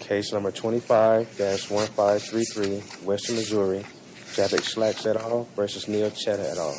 Case number 25-1533, Western Missouri, Jabbok Schlacks et al. v. Neil Chheda et al.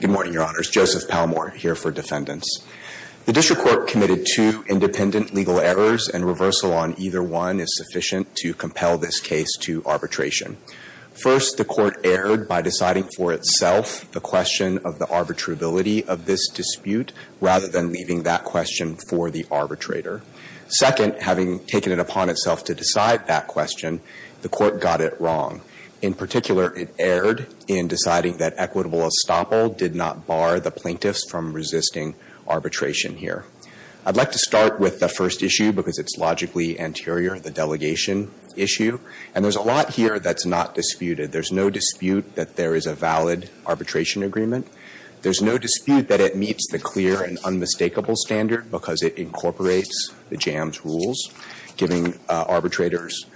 Good morning, Your Honors. Joseph Palmore here for defendants. The district court committed two independent legal errors and reversal on either one is sufficient to compel this case to arbitration. First, the court erred by deciding for itself the question of the arbitrability of this dispute rather than leaving that question for the arbitrator. Second, having taken it upon itself to decide that question, the court got it wrong. In particular, it erred in deciding that equitable estoppel did not bar the plaintiffs from resisting arbitration here. I'd like to start with the first issue because it's logically anterior, the delegation issue. And there's a lot here that's not disputed. There's no dispute that there is a valid arbitration agreement. There's no dispute that it meets the clear and unmistakable standard because it incorporates the JAMS rules, giving arbitrators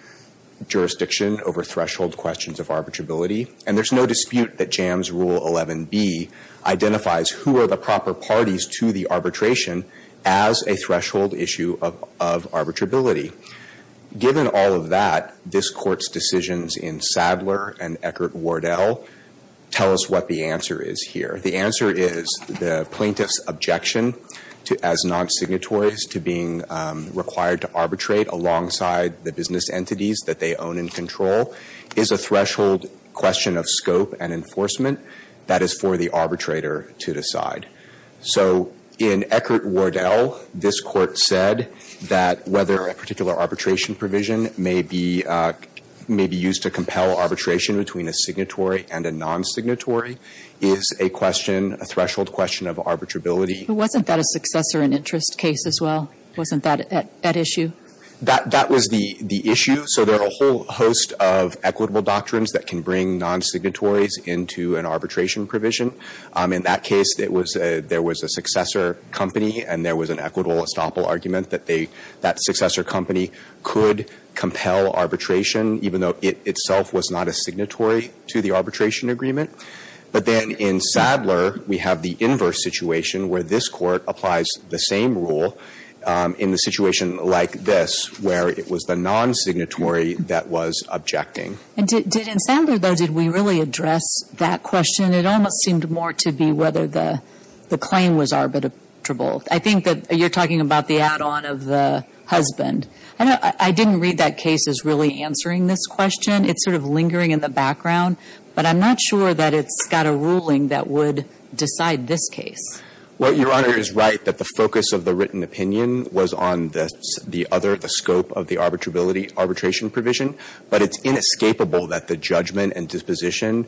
jurisdiction over threshold questions of arbitrability. And there's no dispute that JAMS Rule 11b identifies who are the proper parties to the arbitration as a threshold issue of arbitrability. Given all of that, this Court's decisions in Sadler and Eckert-Wardell tell us what the answer is here. The answer is the plaintiff's objection as non-signatories to being required to arbitrate alongside the business entities that they own and control is a threshold question of scope and enforcement that is for the arbitrator to decide. So in Eckert-Wardell, this Court said that whether a particular arbitration provision may be used to compel arbitration between a signatory and a non-signatory is a question, a threshold question of arbitrability. But wasn't that a successor and interest case as well? Wasn't that at issue? That was the issue. So there are a whole host of equitable doctrines that can bring non-signatories into an arbitration provision. In that case, there was a successor company and there was an equitable estoppel argument that that successor company could compel arbitration even though it itself was not a signatory to the arbitration agreement. But then in Sadler, we have the inverse situation where this Court applies the same rule in the situation like this where it was the non-signatory that was objecting. And did in Sadler, though, did we really address that question? It almost seemed more to be whether the claim was arbitrable. I think that you're talking about the add-on of the husband. I didn't read that case as really answering this question. It's sort of lingering in the background. But I'm not sure that it's got a ruling that would decide this case. Well, Your Honor is right that the focus of the written opinion was on the other, the scope of the arbitration provision. But it's inescapable that the judgment and disposition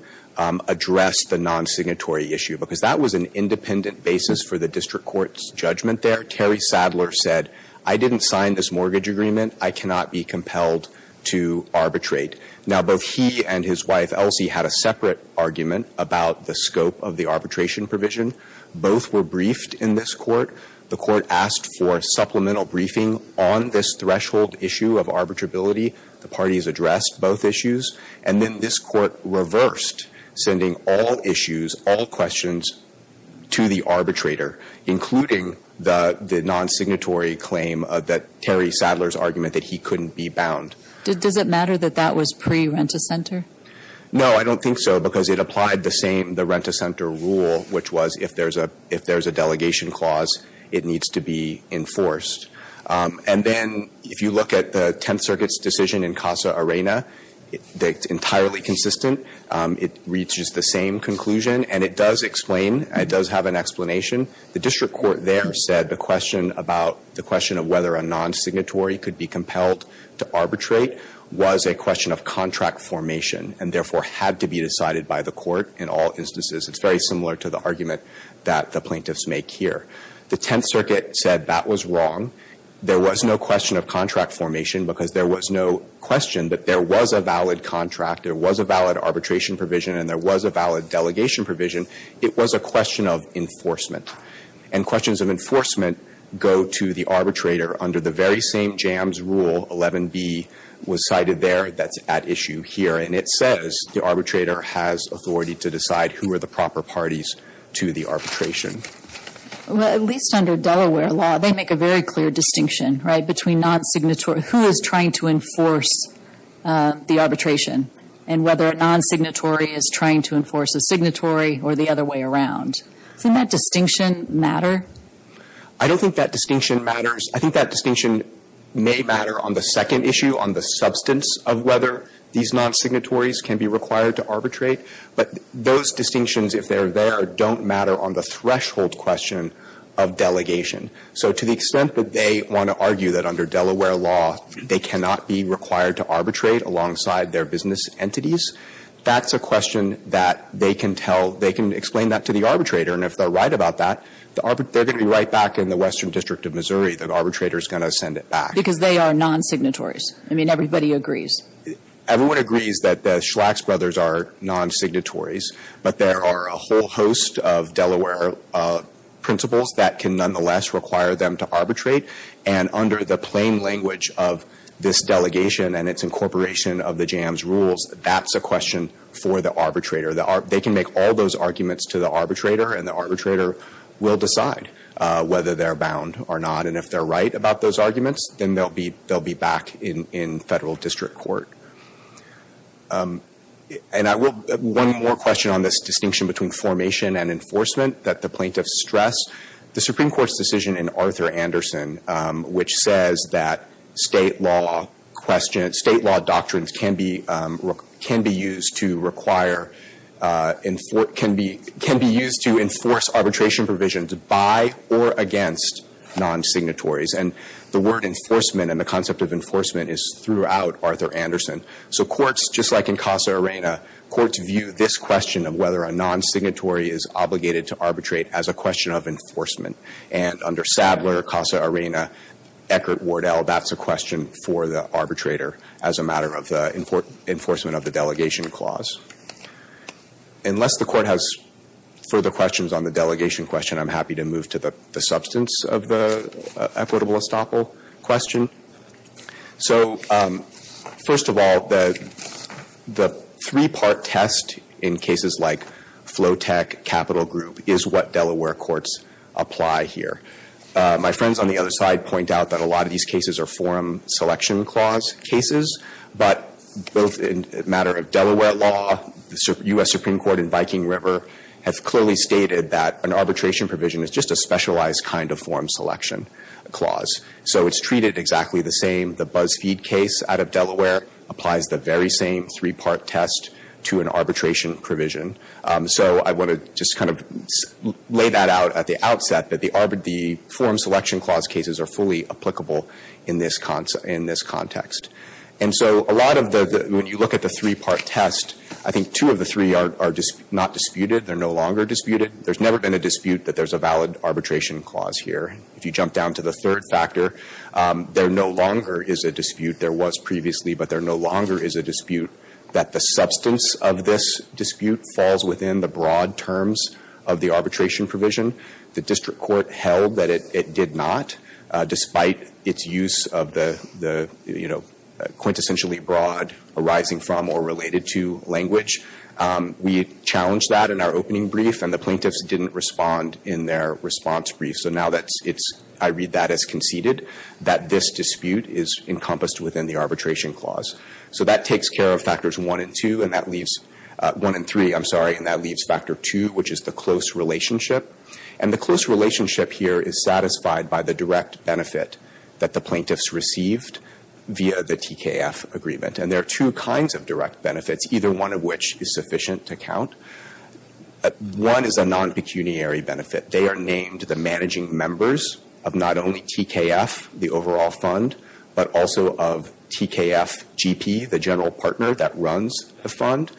addressed the non-signatory issue because that was an independent basis for the district court's judgment there. Terry Sadler said, I didn't sign this mortgage agreement. I cannot be compelled to arbitrate. Now, both he and his wife, Elsie, had a separate argument about the scope of the arbitration provision. Both were briefed in this Court. The Court asked for supplemental briefing on this threshold issue of arbitrability. The parties addressed both issues. And then this Court reversed, sending all issues, all questions to the arbitrator, including the non-signatory claim that Terry Sadler's argument that he couldn't be bound. Does it matter that that was pre-Rent-a-Center? No, I don't think so because it applied the same, the Rent-a-Center rule, which was if there's a delegation clause, it needs to be enforced. And then if you look at the Tenth Circuit's decision in Casa Arena, it's entirely consistent. It reaches the same conclusion, and it does explain, it does have an explanation. The district court there said the question about the question of whether a non-signatory could be compelled to arbitrate was a question of contract formation and therefore had to be decided by the court in all instances. It's very similar to the argument that the plaintiffs make here. The Tenth Circuit said that was wrong. There was no question of contract formation because there was no question that there was a valid contract, there was a valid arbitration provision, and there was a valid delegation provision. It was a question of enforcement. And questions of enforcement go to the arbitrator under the very same jams rule, 11B, was cited there that's at issue here. And it says the arbitrator has authority to decide who are the proper parties to the arbitration. Well, at least under Delaware law, they make a very clear distinction, right, between non-signatory, who is trying to enforce the arbitration, and whether a non-signatory is trying to enforce a signatory or the other way around. Doesn't that distinction matter? I don't think that distinction matters. I think that distinction may matter on the second issue, on the substance of whether these non-signatories can be required to arbitrate. But those distinctions, if they're there, don't matter on the threshold question of delegation. So to the extent that they want to argue that under Delaware law they cannot be required to arbitrate alongside their business entities, that's a question that they can tell they can explain that to the arbitrator. And if they're right about that, they're going to be right back in the Western District of Missouri. The arbitrator is going to send it back. Because they are non-signatories. I mean, everybody agrees. Everyone agrees that the Schlax brothers are non-signatories. But there are a whole host of Delaware principles that can nonetheless require them to arbitrate. And under the plain language of this delegation and its incorporation of the JAMS rules, that's a question for the arbitrator. They can make all those arguments to the arbitrator. And the arbitrator will decide whether they're bound or not. And if they're right about those arguments, then they'll be back in Federal District Court. And I will one more question on this distinction between formation and enforcement that the plaintiffs stress. The Supreme Court's decision in Arthur Anderson, which says that State law questions State law doctrines can be used to require, can be used to enforce arbitration provisions by or against non-signatories. And the word enforcement and the concept of enforcement is throughout Arthur Anderson. So courts, just like in Casa Arena, courts view this question of whether a non-signatory is obligated to arbitrate as a question of enforcement. And under Sadler, Casa Arena, Eckert, Wardell, that's a question for the arbitrator as a matter of enforcement of the delegation clause. Unless the Court has further questions on the delegation question, I'm happy to move to the substance of the equitable estoppel question. So first of all, the three-part test in cases like Flotec, Capital Group, is what Delaware courts apply here. My friends on the other side point out that a lot of these cases are forum selection clause cases. But both in a matter of Delaware law, the U.S. Supreme Court in Viking River has clearly stated that an arbitration provision is just a specialized kind of forum selection clause. So it's treated exactly the same. The BuzzFeed case out of Delaware applies the very same three-part test to an arbitration provision. So I want to just kind of lay that out at the outset that the forum selection clause cases are fully applicable in this context. And so a lot of the, when you look at the three-part test, I think two of the three are not disputed. They're no longer disputed. There's never been a dispute that there's a valid arbitration clause here. If you jump down to the third factor, there no longer is a dispute. There was previously, but there no longer is a dispute that the substance of this dispute falls within the broad terms of the arbitration provision. The district court held that it did not, despite its use of the, you know, quintessentially broad arising from or related to language. We challenged that in our opening brief, and the plaintiffs didn't respond in their response brief. So now that it's, I read that as conceded, that this dispute is encompassed within the arbitration clause. So that takes care of factors one and two, and that leaves, one and three, I'm sorry, and that leaves factor two, which is the close relationship. And the close relationship here is satisfied by the direct benefit that the plaintiffs received via the TKF agreement. And there are two kinds of direct benefits, either one of which is sufficient to count. One is a non-pecuniary benefit. They are named the managing members of not only TKF, the overall fund, but also of TKF GP, the general partner that runs the fund.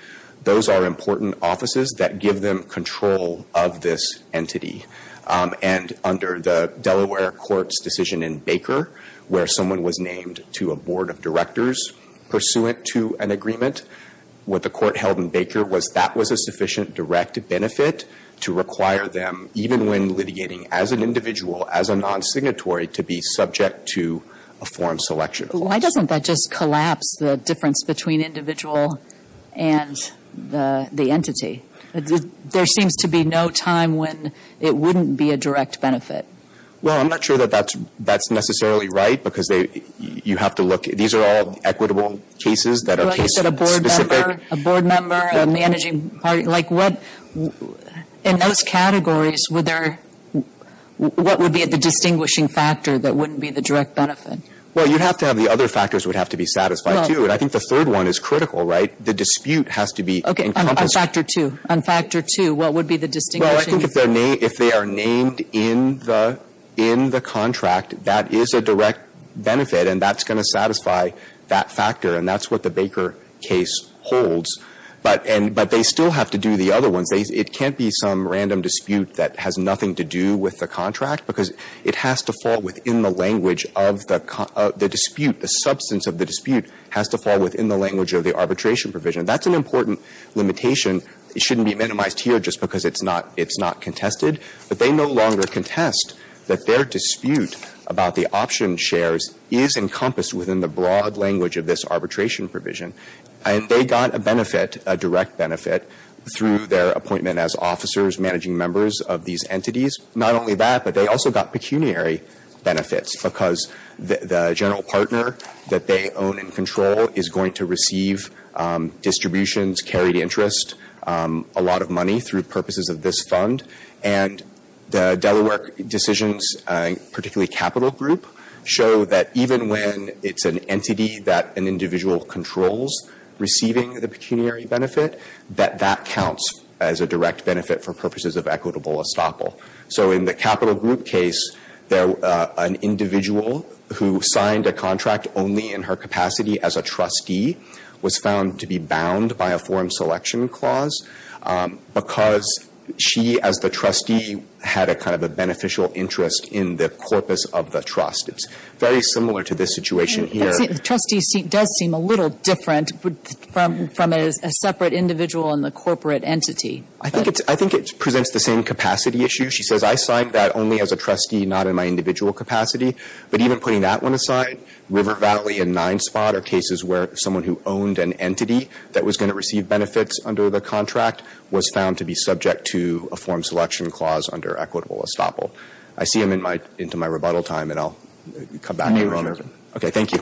Those are important offices that give them control of this entity. And under the Delaware court's decision in Baker, where someone was named to a non-pecuniary benefit pursuant to an agreement, what the court held in Baker was that was a sufficient direct benefit to require them, even when litigating as an individual, as a non-signatory, to be subject to a form selection. Why doesn't that just collapse the difference between individual and the entity? There seems to be no time when it wouldn't be a direct benefit. Well, I'm not sure that that's necessarily right, because you have to look. These are all equitable cases that are case-specific. Well, you said a board member, a board member, a managing party. Like, what, in those categories, would there, what would be the distinguishing factor that wouldn't be the direct benefit? Well, you'd have to have the other factors would have to be satisfied, too. And I think the third one is critical, right? The dispute has to be encompassed. Okay, on factor two. On factor two, what would be the distinguishing factor? Well, I think if they are named in the contract, that is a direct benefit, and that's going to satisfy that factor, and that's what the Baker case holds. But they still have to do the other ones. It can't be some random dispute that has nothing to do with the contract, because it has to fall within the language of the dispute, the substance of the dispute has to fall within the language of the arbitration provision. That's an important limitation. It shouldn't be minimized here just because it's not contested. But they no longer contest that their dispute about the option shares is encompassed within the broad language of this arbitration provision. And they got a benefit, a direct benefit, through their appointment as officers managing members of these entities. Not only that, but they also got pecuniary benefits, because the general partner that they own and control is going to receive distributions, carried interest, a lot of money through purposes of this fund. And the Delaware decisions, particularly Capital Group, show that even when it's an entity that an individual controls receiving the pecuniary benefit, that that counts as a direct benefit for purposes of equitable estoppel. So in the Capital Group case, an individual who signed a contract only in her capacity as a trustee was found to be bound by a form selection clause, because she, as the trustee, had a kind of a beneficial interest in the corpus of the trust. It's very similar to this situation here. And the trustee does seem a little different from a separate individual in the corporate entity. I think it presents the same capacity issue. She says, I signed that only as a trustee, not in my individual capacity. But even putting that one aside, River Valley and Ninespot are cases where someone who owned an entity that was going to receive benefits under the contract was found to be subject to a form selection clause under equitable estoppel. I see I'm into my rebuttal time, and I'll come back. Okay, thank you.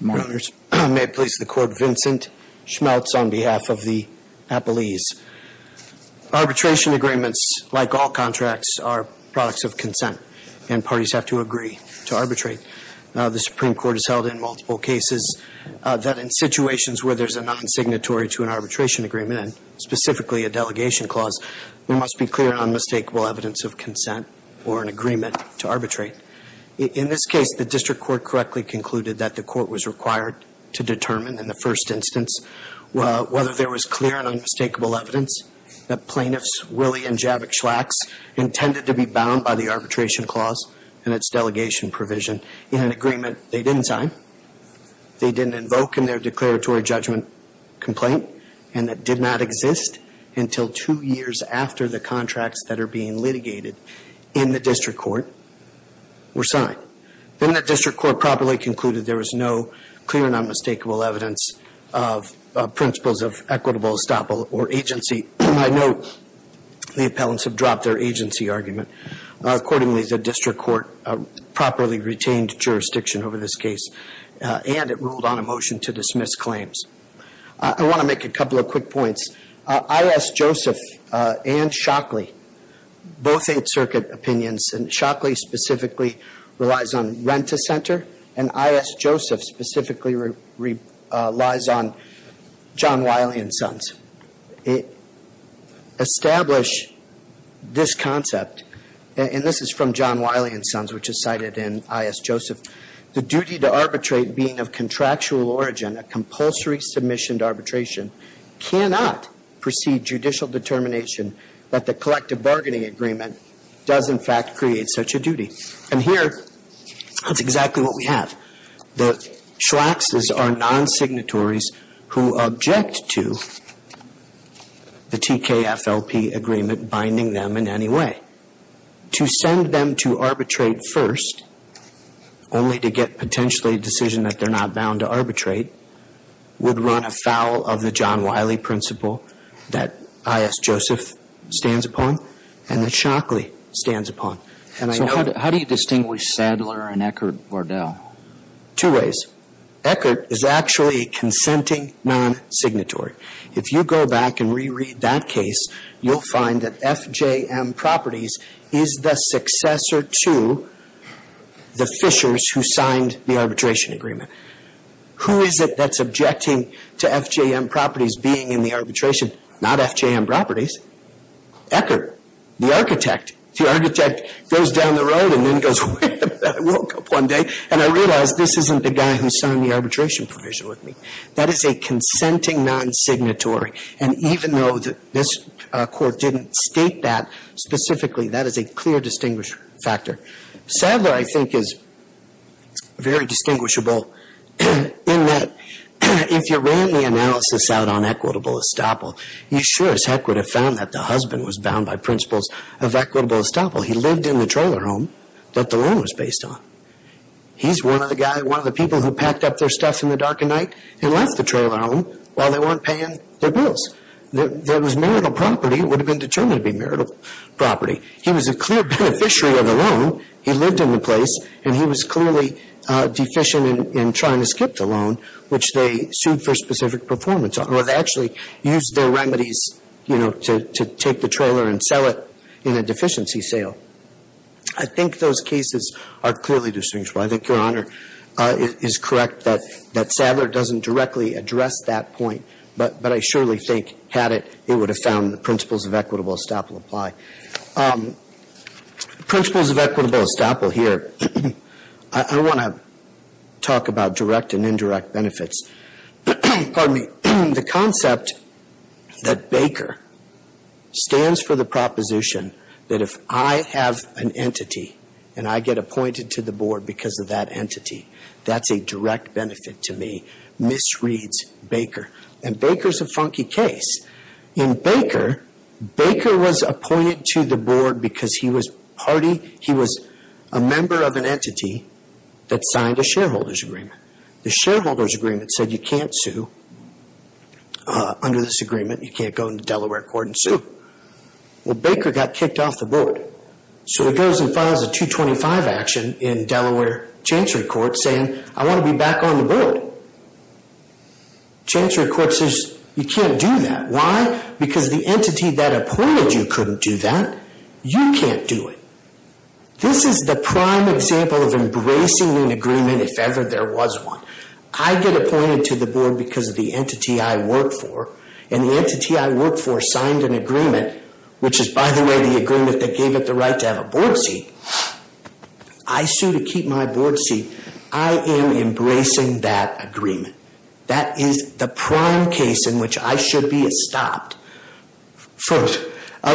Your Honors, may it please the Court, Vincent Schmaltz on behalf of the Appellees. Arbitration agreements, like all contracts, are products of consent, and parties have to agree to arbitrate. The Supreme Court has held in multiple cases that in situations where there's a non-signatory to an arbitration agreement, and specifically a delegation clause, there must be clear and unmistakable evidence of consent or an agreement to arbitrate. In this case, the district court correctly concluded that the court was required to determine in the first instance whether there was clear and unmistakable evidence that plaintiffs intended to be bound by the arbitration clause and its delegation provision in an agreement they didn't sign, they didn't invoke in their declaratory judgment complaint, and that did not exist until two years after the contracts that are being litigated in the district court were signed. Then the district court properly concluded there was no clear and unmistakable evidence of principles of equitable estoppel or agency. I note the appellants have dropped their agency argument. Accordingly, the district court properly retained jurisdiction over this case, and it ruled on a motion to dismiss claims. I want to make a couple of quick points. I.S. Joseph and Shockley, both Eighth Circuit opinions, and Shockley specifically relies on Rent-A-Center, and I.S. Joseph specifically relies on John Wiley and Sons. Establish this concept, and this is from John Wiley and Sons, which is cited in I.S. Joseph, the duty to arbitrate being of contractual origin, a compulsory submission to arbitration cannot precede judicial determination that the collective bargaining agreement does, in fact, create such a duty. And here, that's exactly what we have. The Schlaxes are non-signatories who object to the TKFLP agreement binding them in any way. To send them to arbitrate first, only to get potentially a decision that they're not bound to arbitrate, would run afoul of the John Wiley principle that I.S. Joseph stands upon and that Shockley stands upon. So how do you distinguish Sadler and Eckert-Vardell? Two ways. Eckert is actually a consenting non-signatory. If you go back and reread that case, you'll find that FJM Properties is the successor to the Fishers who signed the arbitration agreement. Who is it that's objecting to FJM Properties being in the arbitration? Not FJM Properties. Eckert, the architect. The architect goes down the road and then goes, wait a minute, I woke up one day and I realized this isn't the guy who signed the arbitration provision with me. That is a consenting non-signatory. And even though this court didn't state that specifically, that is a clear distinguish factor. Sadler, I think, is very distinguishable in that if you ran the analysis out on equitable estoppel, you sure as heck would have found that the husband was bound by principles of equitable estoppel. He lived in the trailer home that the loan was based on. He's one of the people who packed up their stuff in the dark of night and left the trailer home while they weren't paying their bills. It was marital property. It would have been determined to be marital property. He was a clear beneficiary of the loan. He lived in the place and he was clearly deficient in trying to skip the loan, which they sued for specific performance on, or they actually used their remedies, you know, to take the trailer and sell it in a deficiency sale. I think those cases are clearly distinguishable. I think Your Honor is correct that Sadler doesn't directly address that point, but I surely think had it, it would have found the principles of equitable estoppel apply. Principles of equitable estoppel here. I want to talk about direct and indirect benefits. Pardon me. The concept that Baker stands for the proposition that if I have an entity and I get appointed to the board because of that entity, that's a direct benefit to me, misreads Baker. And Baker's a funky case. In Baker, Baker was appointed to the board because he was party, he was a member of an entity that signed a shareholder's agreement. The shareholder's agreement said you can't sue under this agreement. You can't go into Delaware court and sue. Well, Baker got kicked off the board. So he goes and files a 225 action in Delaware Chancery Court saying, I want to be back on the board. Chancery Court says you can't do that. Because the entity that appointed you couldn't do that. You can't do it. This is the prime example of embracing an agreement if ever there was one. I get appointed to the board because of the entity I work for, and the entity I work for signed an agreement, which is, by the way, the agreement that gave it the right to have a board seat. I sue to keep my board seat. I am embracing that agreement. That is the prime case in which I should be stopped. I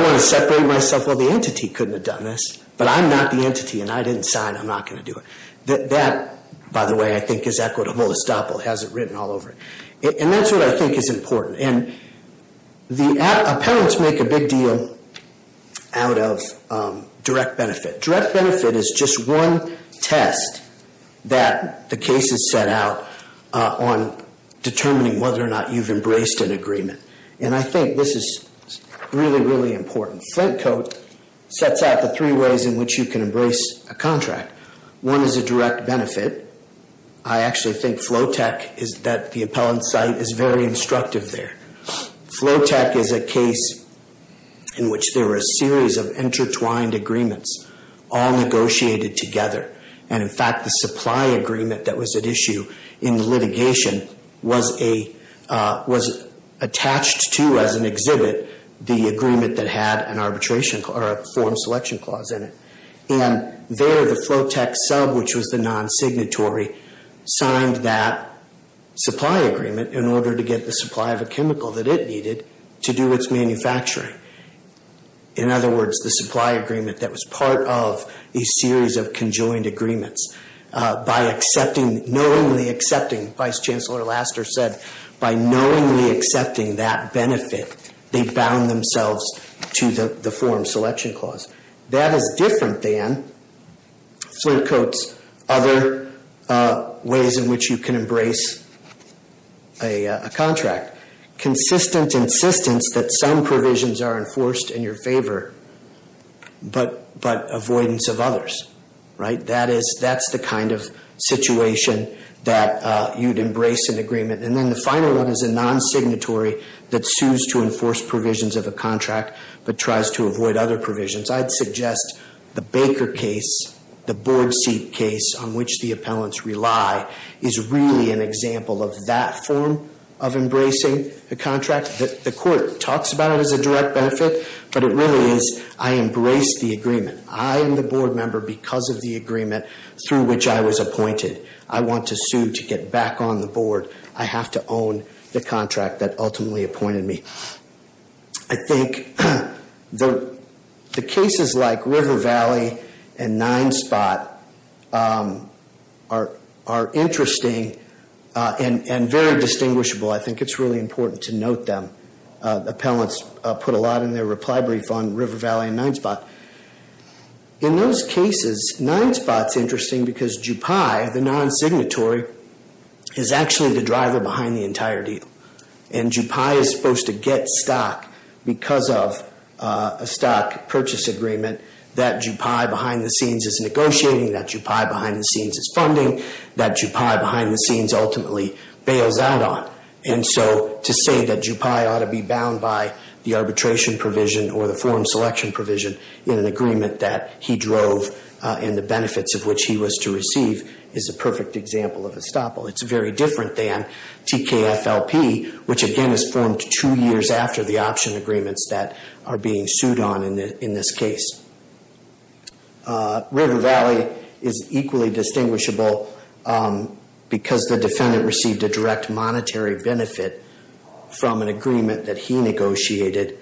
want to separate myself. Well, the entity couldn't have done this, but I'm not the entity, and I didn't sign. I'm not going to do it. That, by the way, I think is equitable. Estoppel has it written all over it. And that's what I think is important. Appellants make a big deal out of direct benefit. Direct benefit is just one test that the case has set out on determining whether or not you've embraced an agreement. And I think this is really, really important. Flint Code sets out the three ways in which you can embrace a contract. One is a direct benefit. I actually think FLOTEC is that the appellant site is very instructive there. FLOTEC is a case in which there were a series of intertwined agreements all negotiated together. And, in fact, the supply agreement that was at issue in litigation was attached to as an exhibit the agreement that had an arbitration or a form selection clause in it. And there the FLOTEC sub, which was the non-signatory, signed that supply agreement in order to get the supply of a chemical that it needed to do its manufacturing. In other words, the supply agreement that was part of a series of conjoined agreements. By knowingly accepting, Vice Chancellor Laster said, by knowingly accepting that benefit, they bound themselves to the form selection clause. That is different than Flint Code's other ways in which you can embrace a contract. Consistent insistence that some provisions are enforced in your favor, but avoidance of others. That's the kind of situation that you'd embrace an agreement. And then the final one is a non-signatory that sues to enforce provisions of a contract but tries to avoid other provisions. I'd suggest the Baker case, the board seat case on which the appellants rely, is really an example of that form of embracing a contract. The court talks about it as a direct benefit, but it really is I embrace the agreement. I am the board member because of the agreement through which I was appointed. I want to sue to get back on the board. I have to own the contract that ultimately appointed me. I think the cases like River Valley and Ninespot are interesting and very distinguishable. I think it's really important to note them. Appellants put a lot in their reply brief on River Valley and Ninespot. In those cases, Ninespot's interesting because GPI, the non-signatory, is actually the driver behind the entire deal. And GPI is supposed to get stock because of a stock purchase agreement that GPI behind the scenes is negotiating, that GPI behind the scenes is funding, that GPI behind the scenes ultimately bails out on. And so to say that GPI ought to be bound by the arbitration provision or the form selection provision in an agreement that he drove and the benefits of which he was to receive is a perfect example of estoppel. It's very different than TKFLP, which again is formed two years after the option agreements that are being sued on in this case. River Valley is equally distinguishable because the defendant received a direct monetary benefit from an agreement that he negotiated.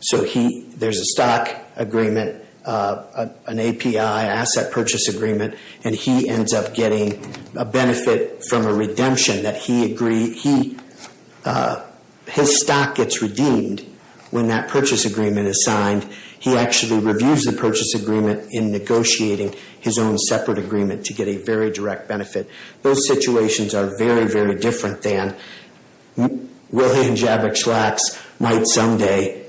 So there's a stock agreement, an API, an asset purchase agreement, and he ends up getting a benefit from a redemption that he agreed. His stock gets redeemed when that purchase agreement is signed. He actually reviews the purchase agreement in negotiating his own separate agreement to get a very direct benefit. Those situations are very, very different than Willie and Javik Schlaks might someday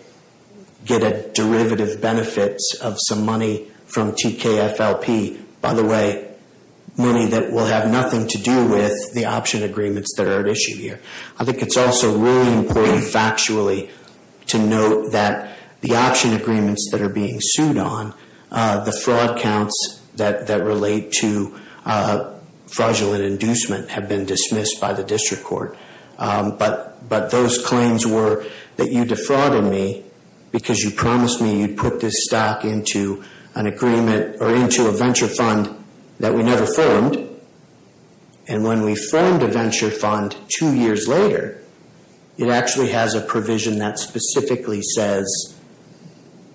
get a derivative benefit of some money from TKFLP. By the way, money that will have nothing to do with the option agreements that are at issue here. I think it's also really important factually to note that the option agreements that are being sued on, the fraud counts that relate to fraudulent inducement have been dismissed by the district court. But those claims were that you defrauded me because you promised me you'd put this stock into an agreement or into a venture fund that we never formed. And when we formed a venture fund two years later, it actually has a provision that specifically says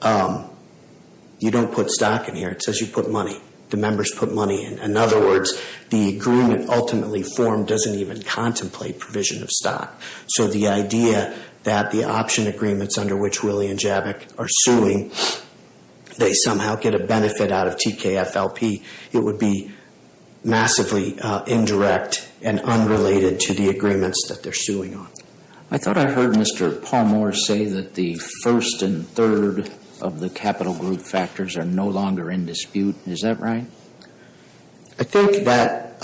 you don't put stock in here. It says you put money. The members put money in. In other words, the agreement ultimately formed doesn't even contemplate provision of stock. So the idea that the option agreements under which Willie and Javik are suing, they somehow get a benefit out of TKFLP, it would be massively indirect and unrelated to the agreements that they're suing on. I thought I heard Mr. Palmer say that the first and third of the capital group factors are no longer in dispute. Is that right? I think that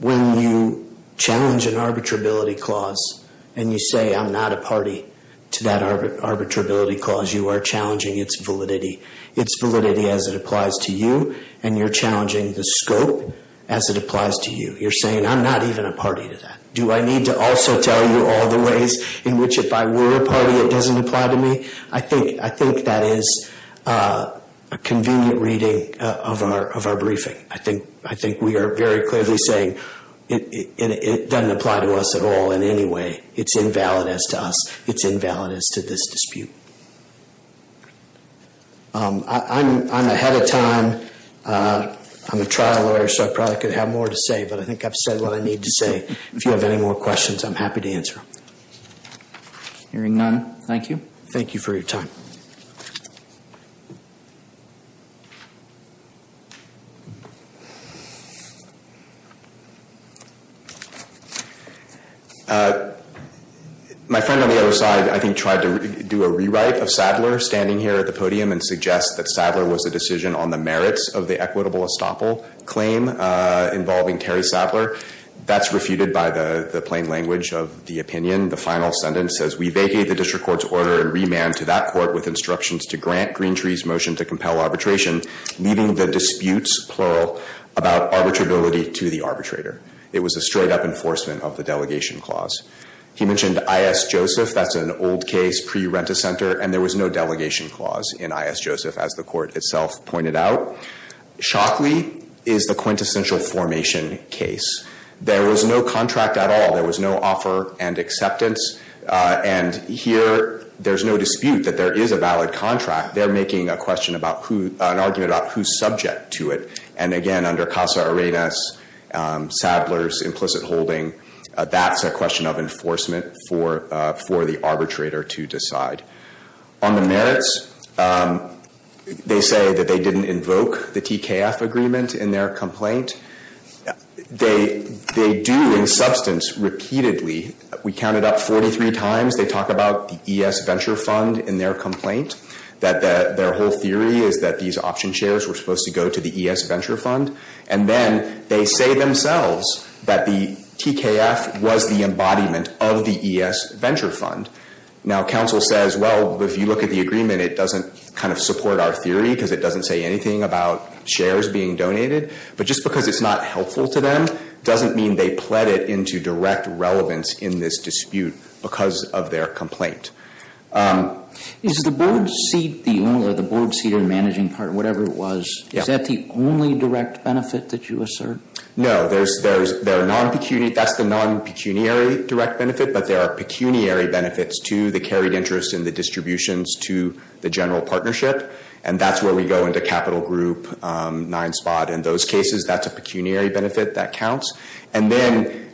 when you challenge an arbitrability clause and you say I'm not a party to that arbitrability clause, you are challenging its validity. Its validity as it applies to you, and you're challenging the scope as it applies to you. You're saying I'm not even a party to that. Do I need to also tell you all the ways in which if I were a party it doesn't apply to me? I think that is a convenient reading of our briefing. I think we are very clearly saying it doesn't apply to us at all in any way. It's invalid as to us. It's invalid as to this dispute. I'm ahead of time. I'm a trial lawyer so I probably could have more to say, but I think I've said what I need to say. If you have any more questions, I'm happy to answer them. Hearing none, thank you. Thank you for your time. My friend on the other side I think tried to do a rewrite of Sadler standing here at the podium and suggest that Sadler was a decision on the merits of the equitable estoppel claim involving Terry Sadler. That's refuted by the plain language of the opinion. The final sentence says we vacate the district court's order and remand to that court with instructions to grant Greentree's motion to compel arbitration, leaving the disputes, plural, about arbitrability to the arbitrator. It was a straight-up enforcement of the delegation clause. He mentioned I.S. Joseph. That's an old case pre-Rent-a-Center, and there was no delegation clause in I.S. Joseph, as the court itself pointed out. Shockley is the quintessential formation case. There was no contract at all. There was no offer and acceptance. And here there's no dispute that there is a valid contract. They're making a question about who, an argument about who's subject to it. And, again, under Casa Arenas, Sadler's implicit holding, that's a question of enforcement for the arbitrator to decide. On the merits, they say that they didn't invoke the TKF agreement in their complaint. They do, in substance, repeatedly. We counted up 43 times. They talk about the E.S. Venture Fund in their complaint, that their whole theory is that these option shares were supposed to go to the E.S. Venture Fund. And then they say themselves that the TKF was the embodiment of the E.S. Venture Fund. Now, counsel says, well, if you look at the agreement, it doesn't kind of support our theory because it doesn't say anything about shares being donated. But just because it's not helpful to them, doesn't mean they pled it into direct relevance in this dispute because of their complaint. Is the board seat, the owner, the board seat or the managing partner, whatever it was, is that the only direct benefit that you assert? No. That's the non-pecuniary direct benefit, but there are pecuniary benefits to the carried interest and the distributions to the general partnership. And that's where we go into capital group nine spot in those cases. That's a pecuniary benefit that counts. And then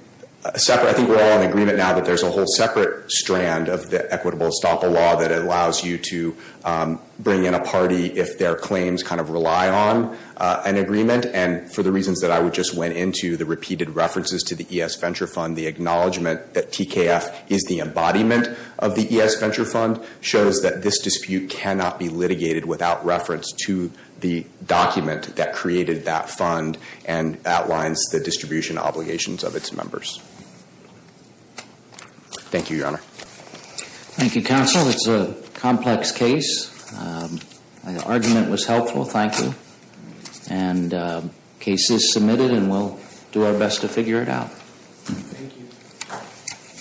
I think we're all in agreement now that there's a whole separate strand of the equitable estoppel law that allows you to bring in a party if their claims kind of rely on an agreement. And for the reasons that I just went into, the repeated references to the E.S. Venture Fund, the acknowledgement that TKF is the embodiment of the E.S. Venture Fund shows that this dispute cannot be litigated without reference to the document that created that fund and outlines the distribution obligations of its members. Thank you, Your Honor. Thank you, Counsel. It's a complex case. The argument was helpful. Thank you. And the case is submitted and we'll do our best to figure it out. Thank you.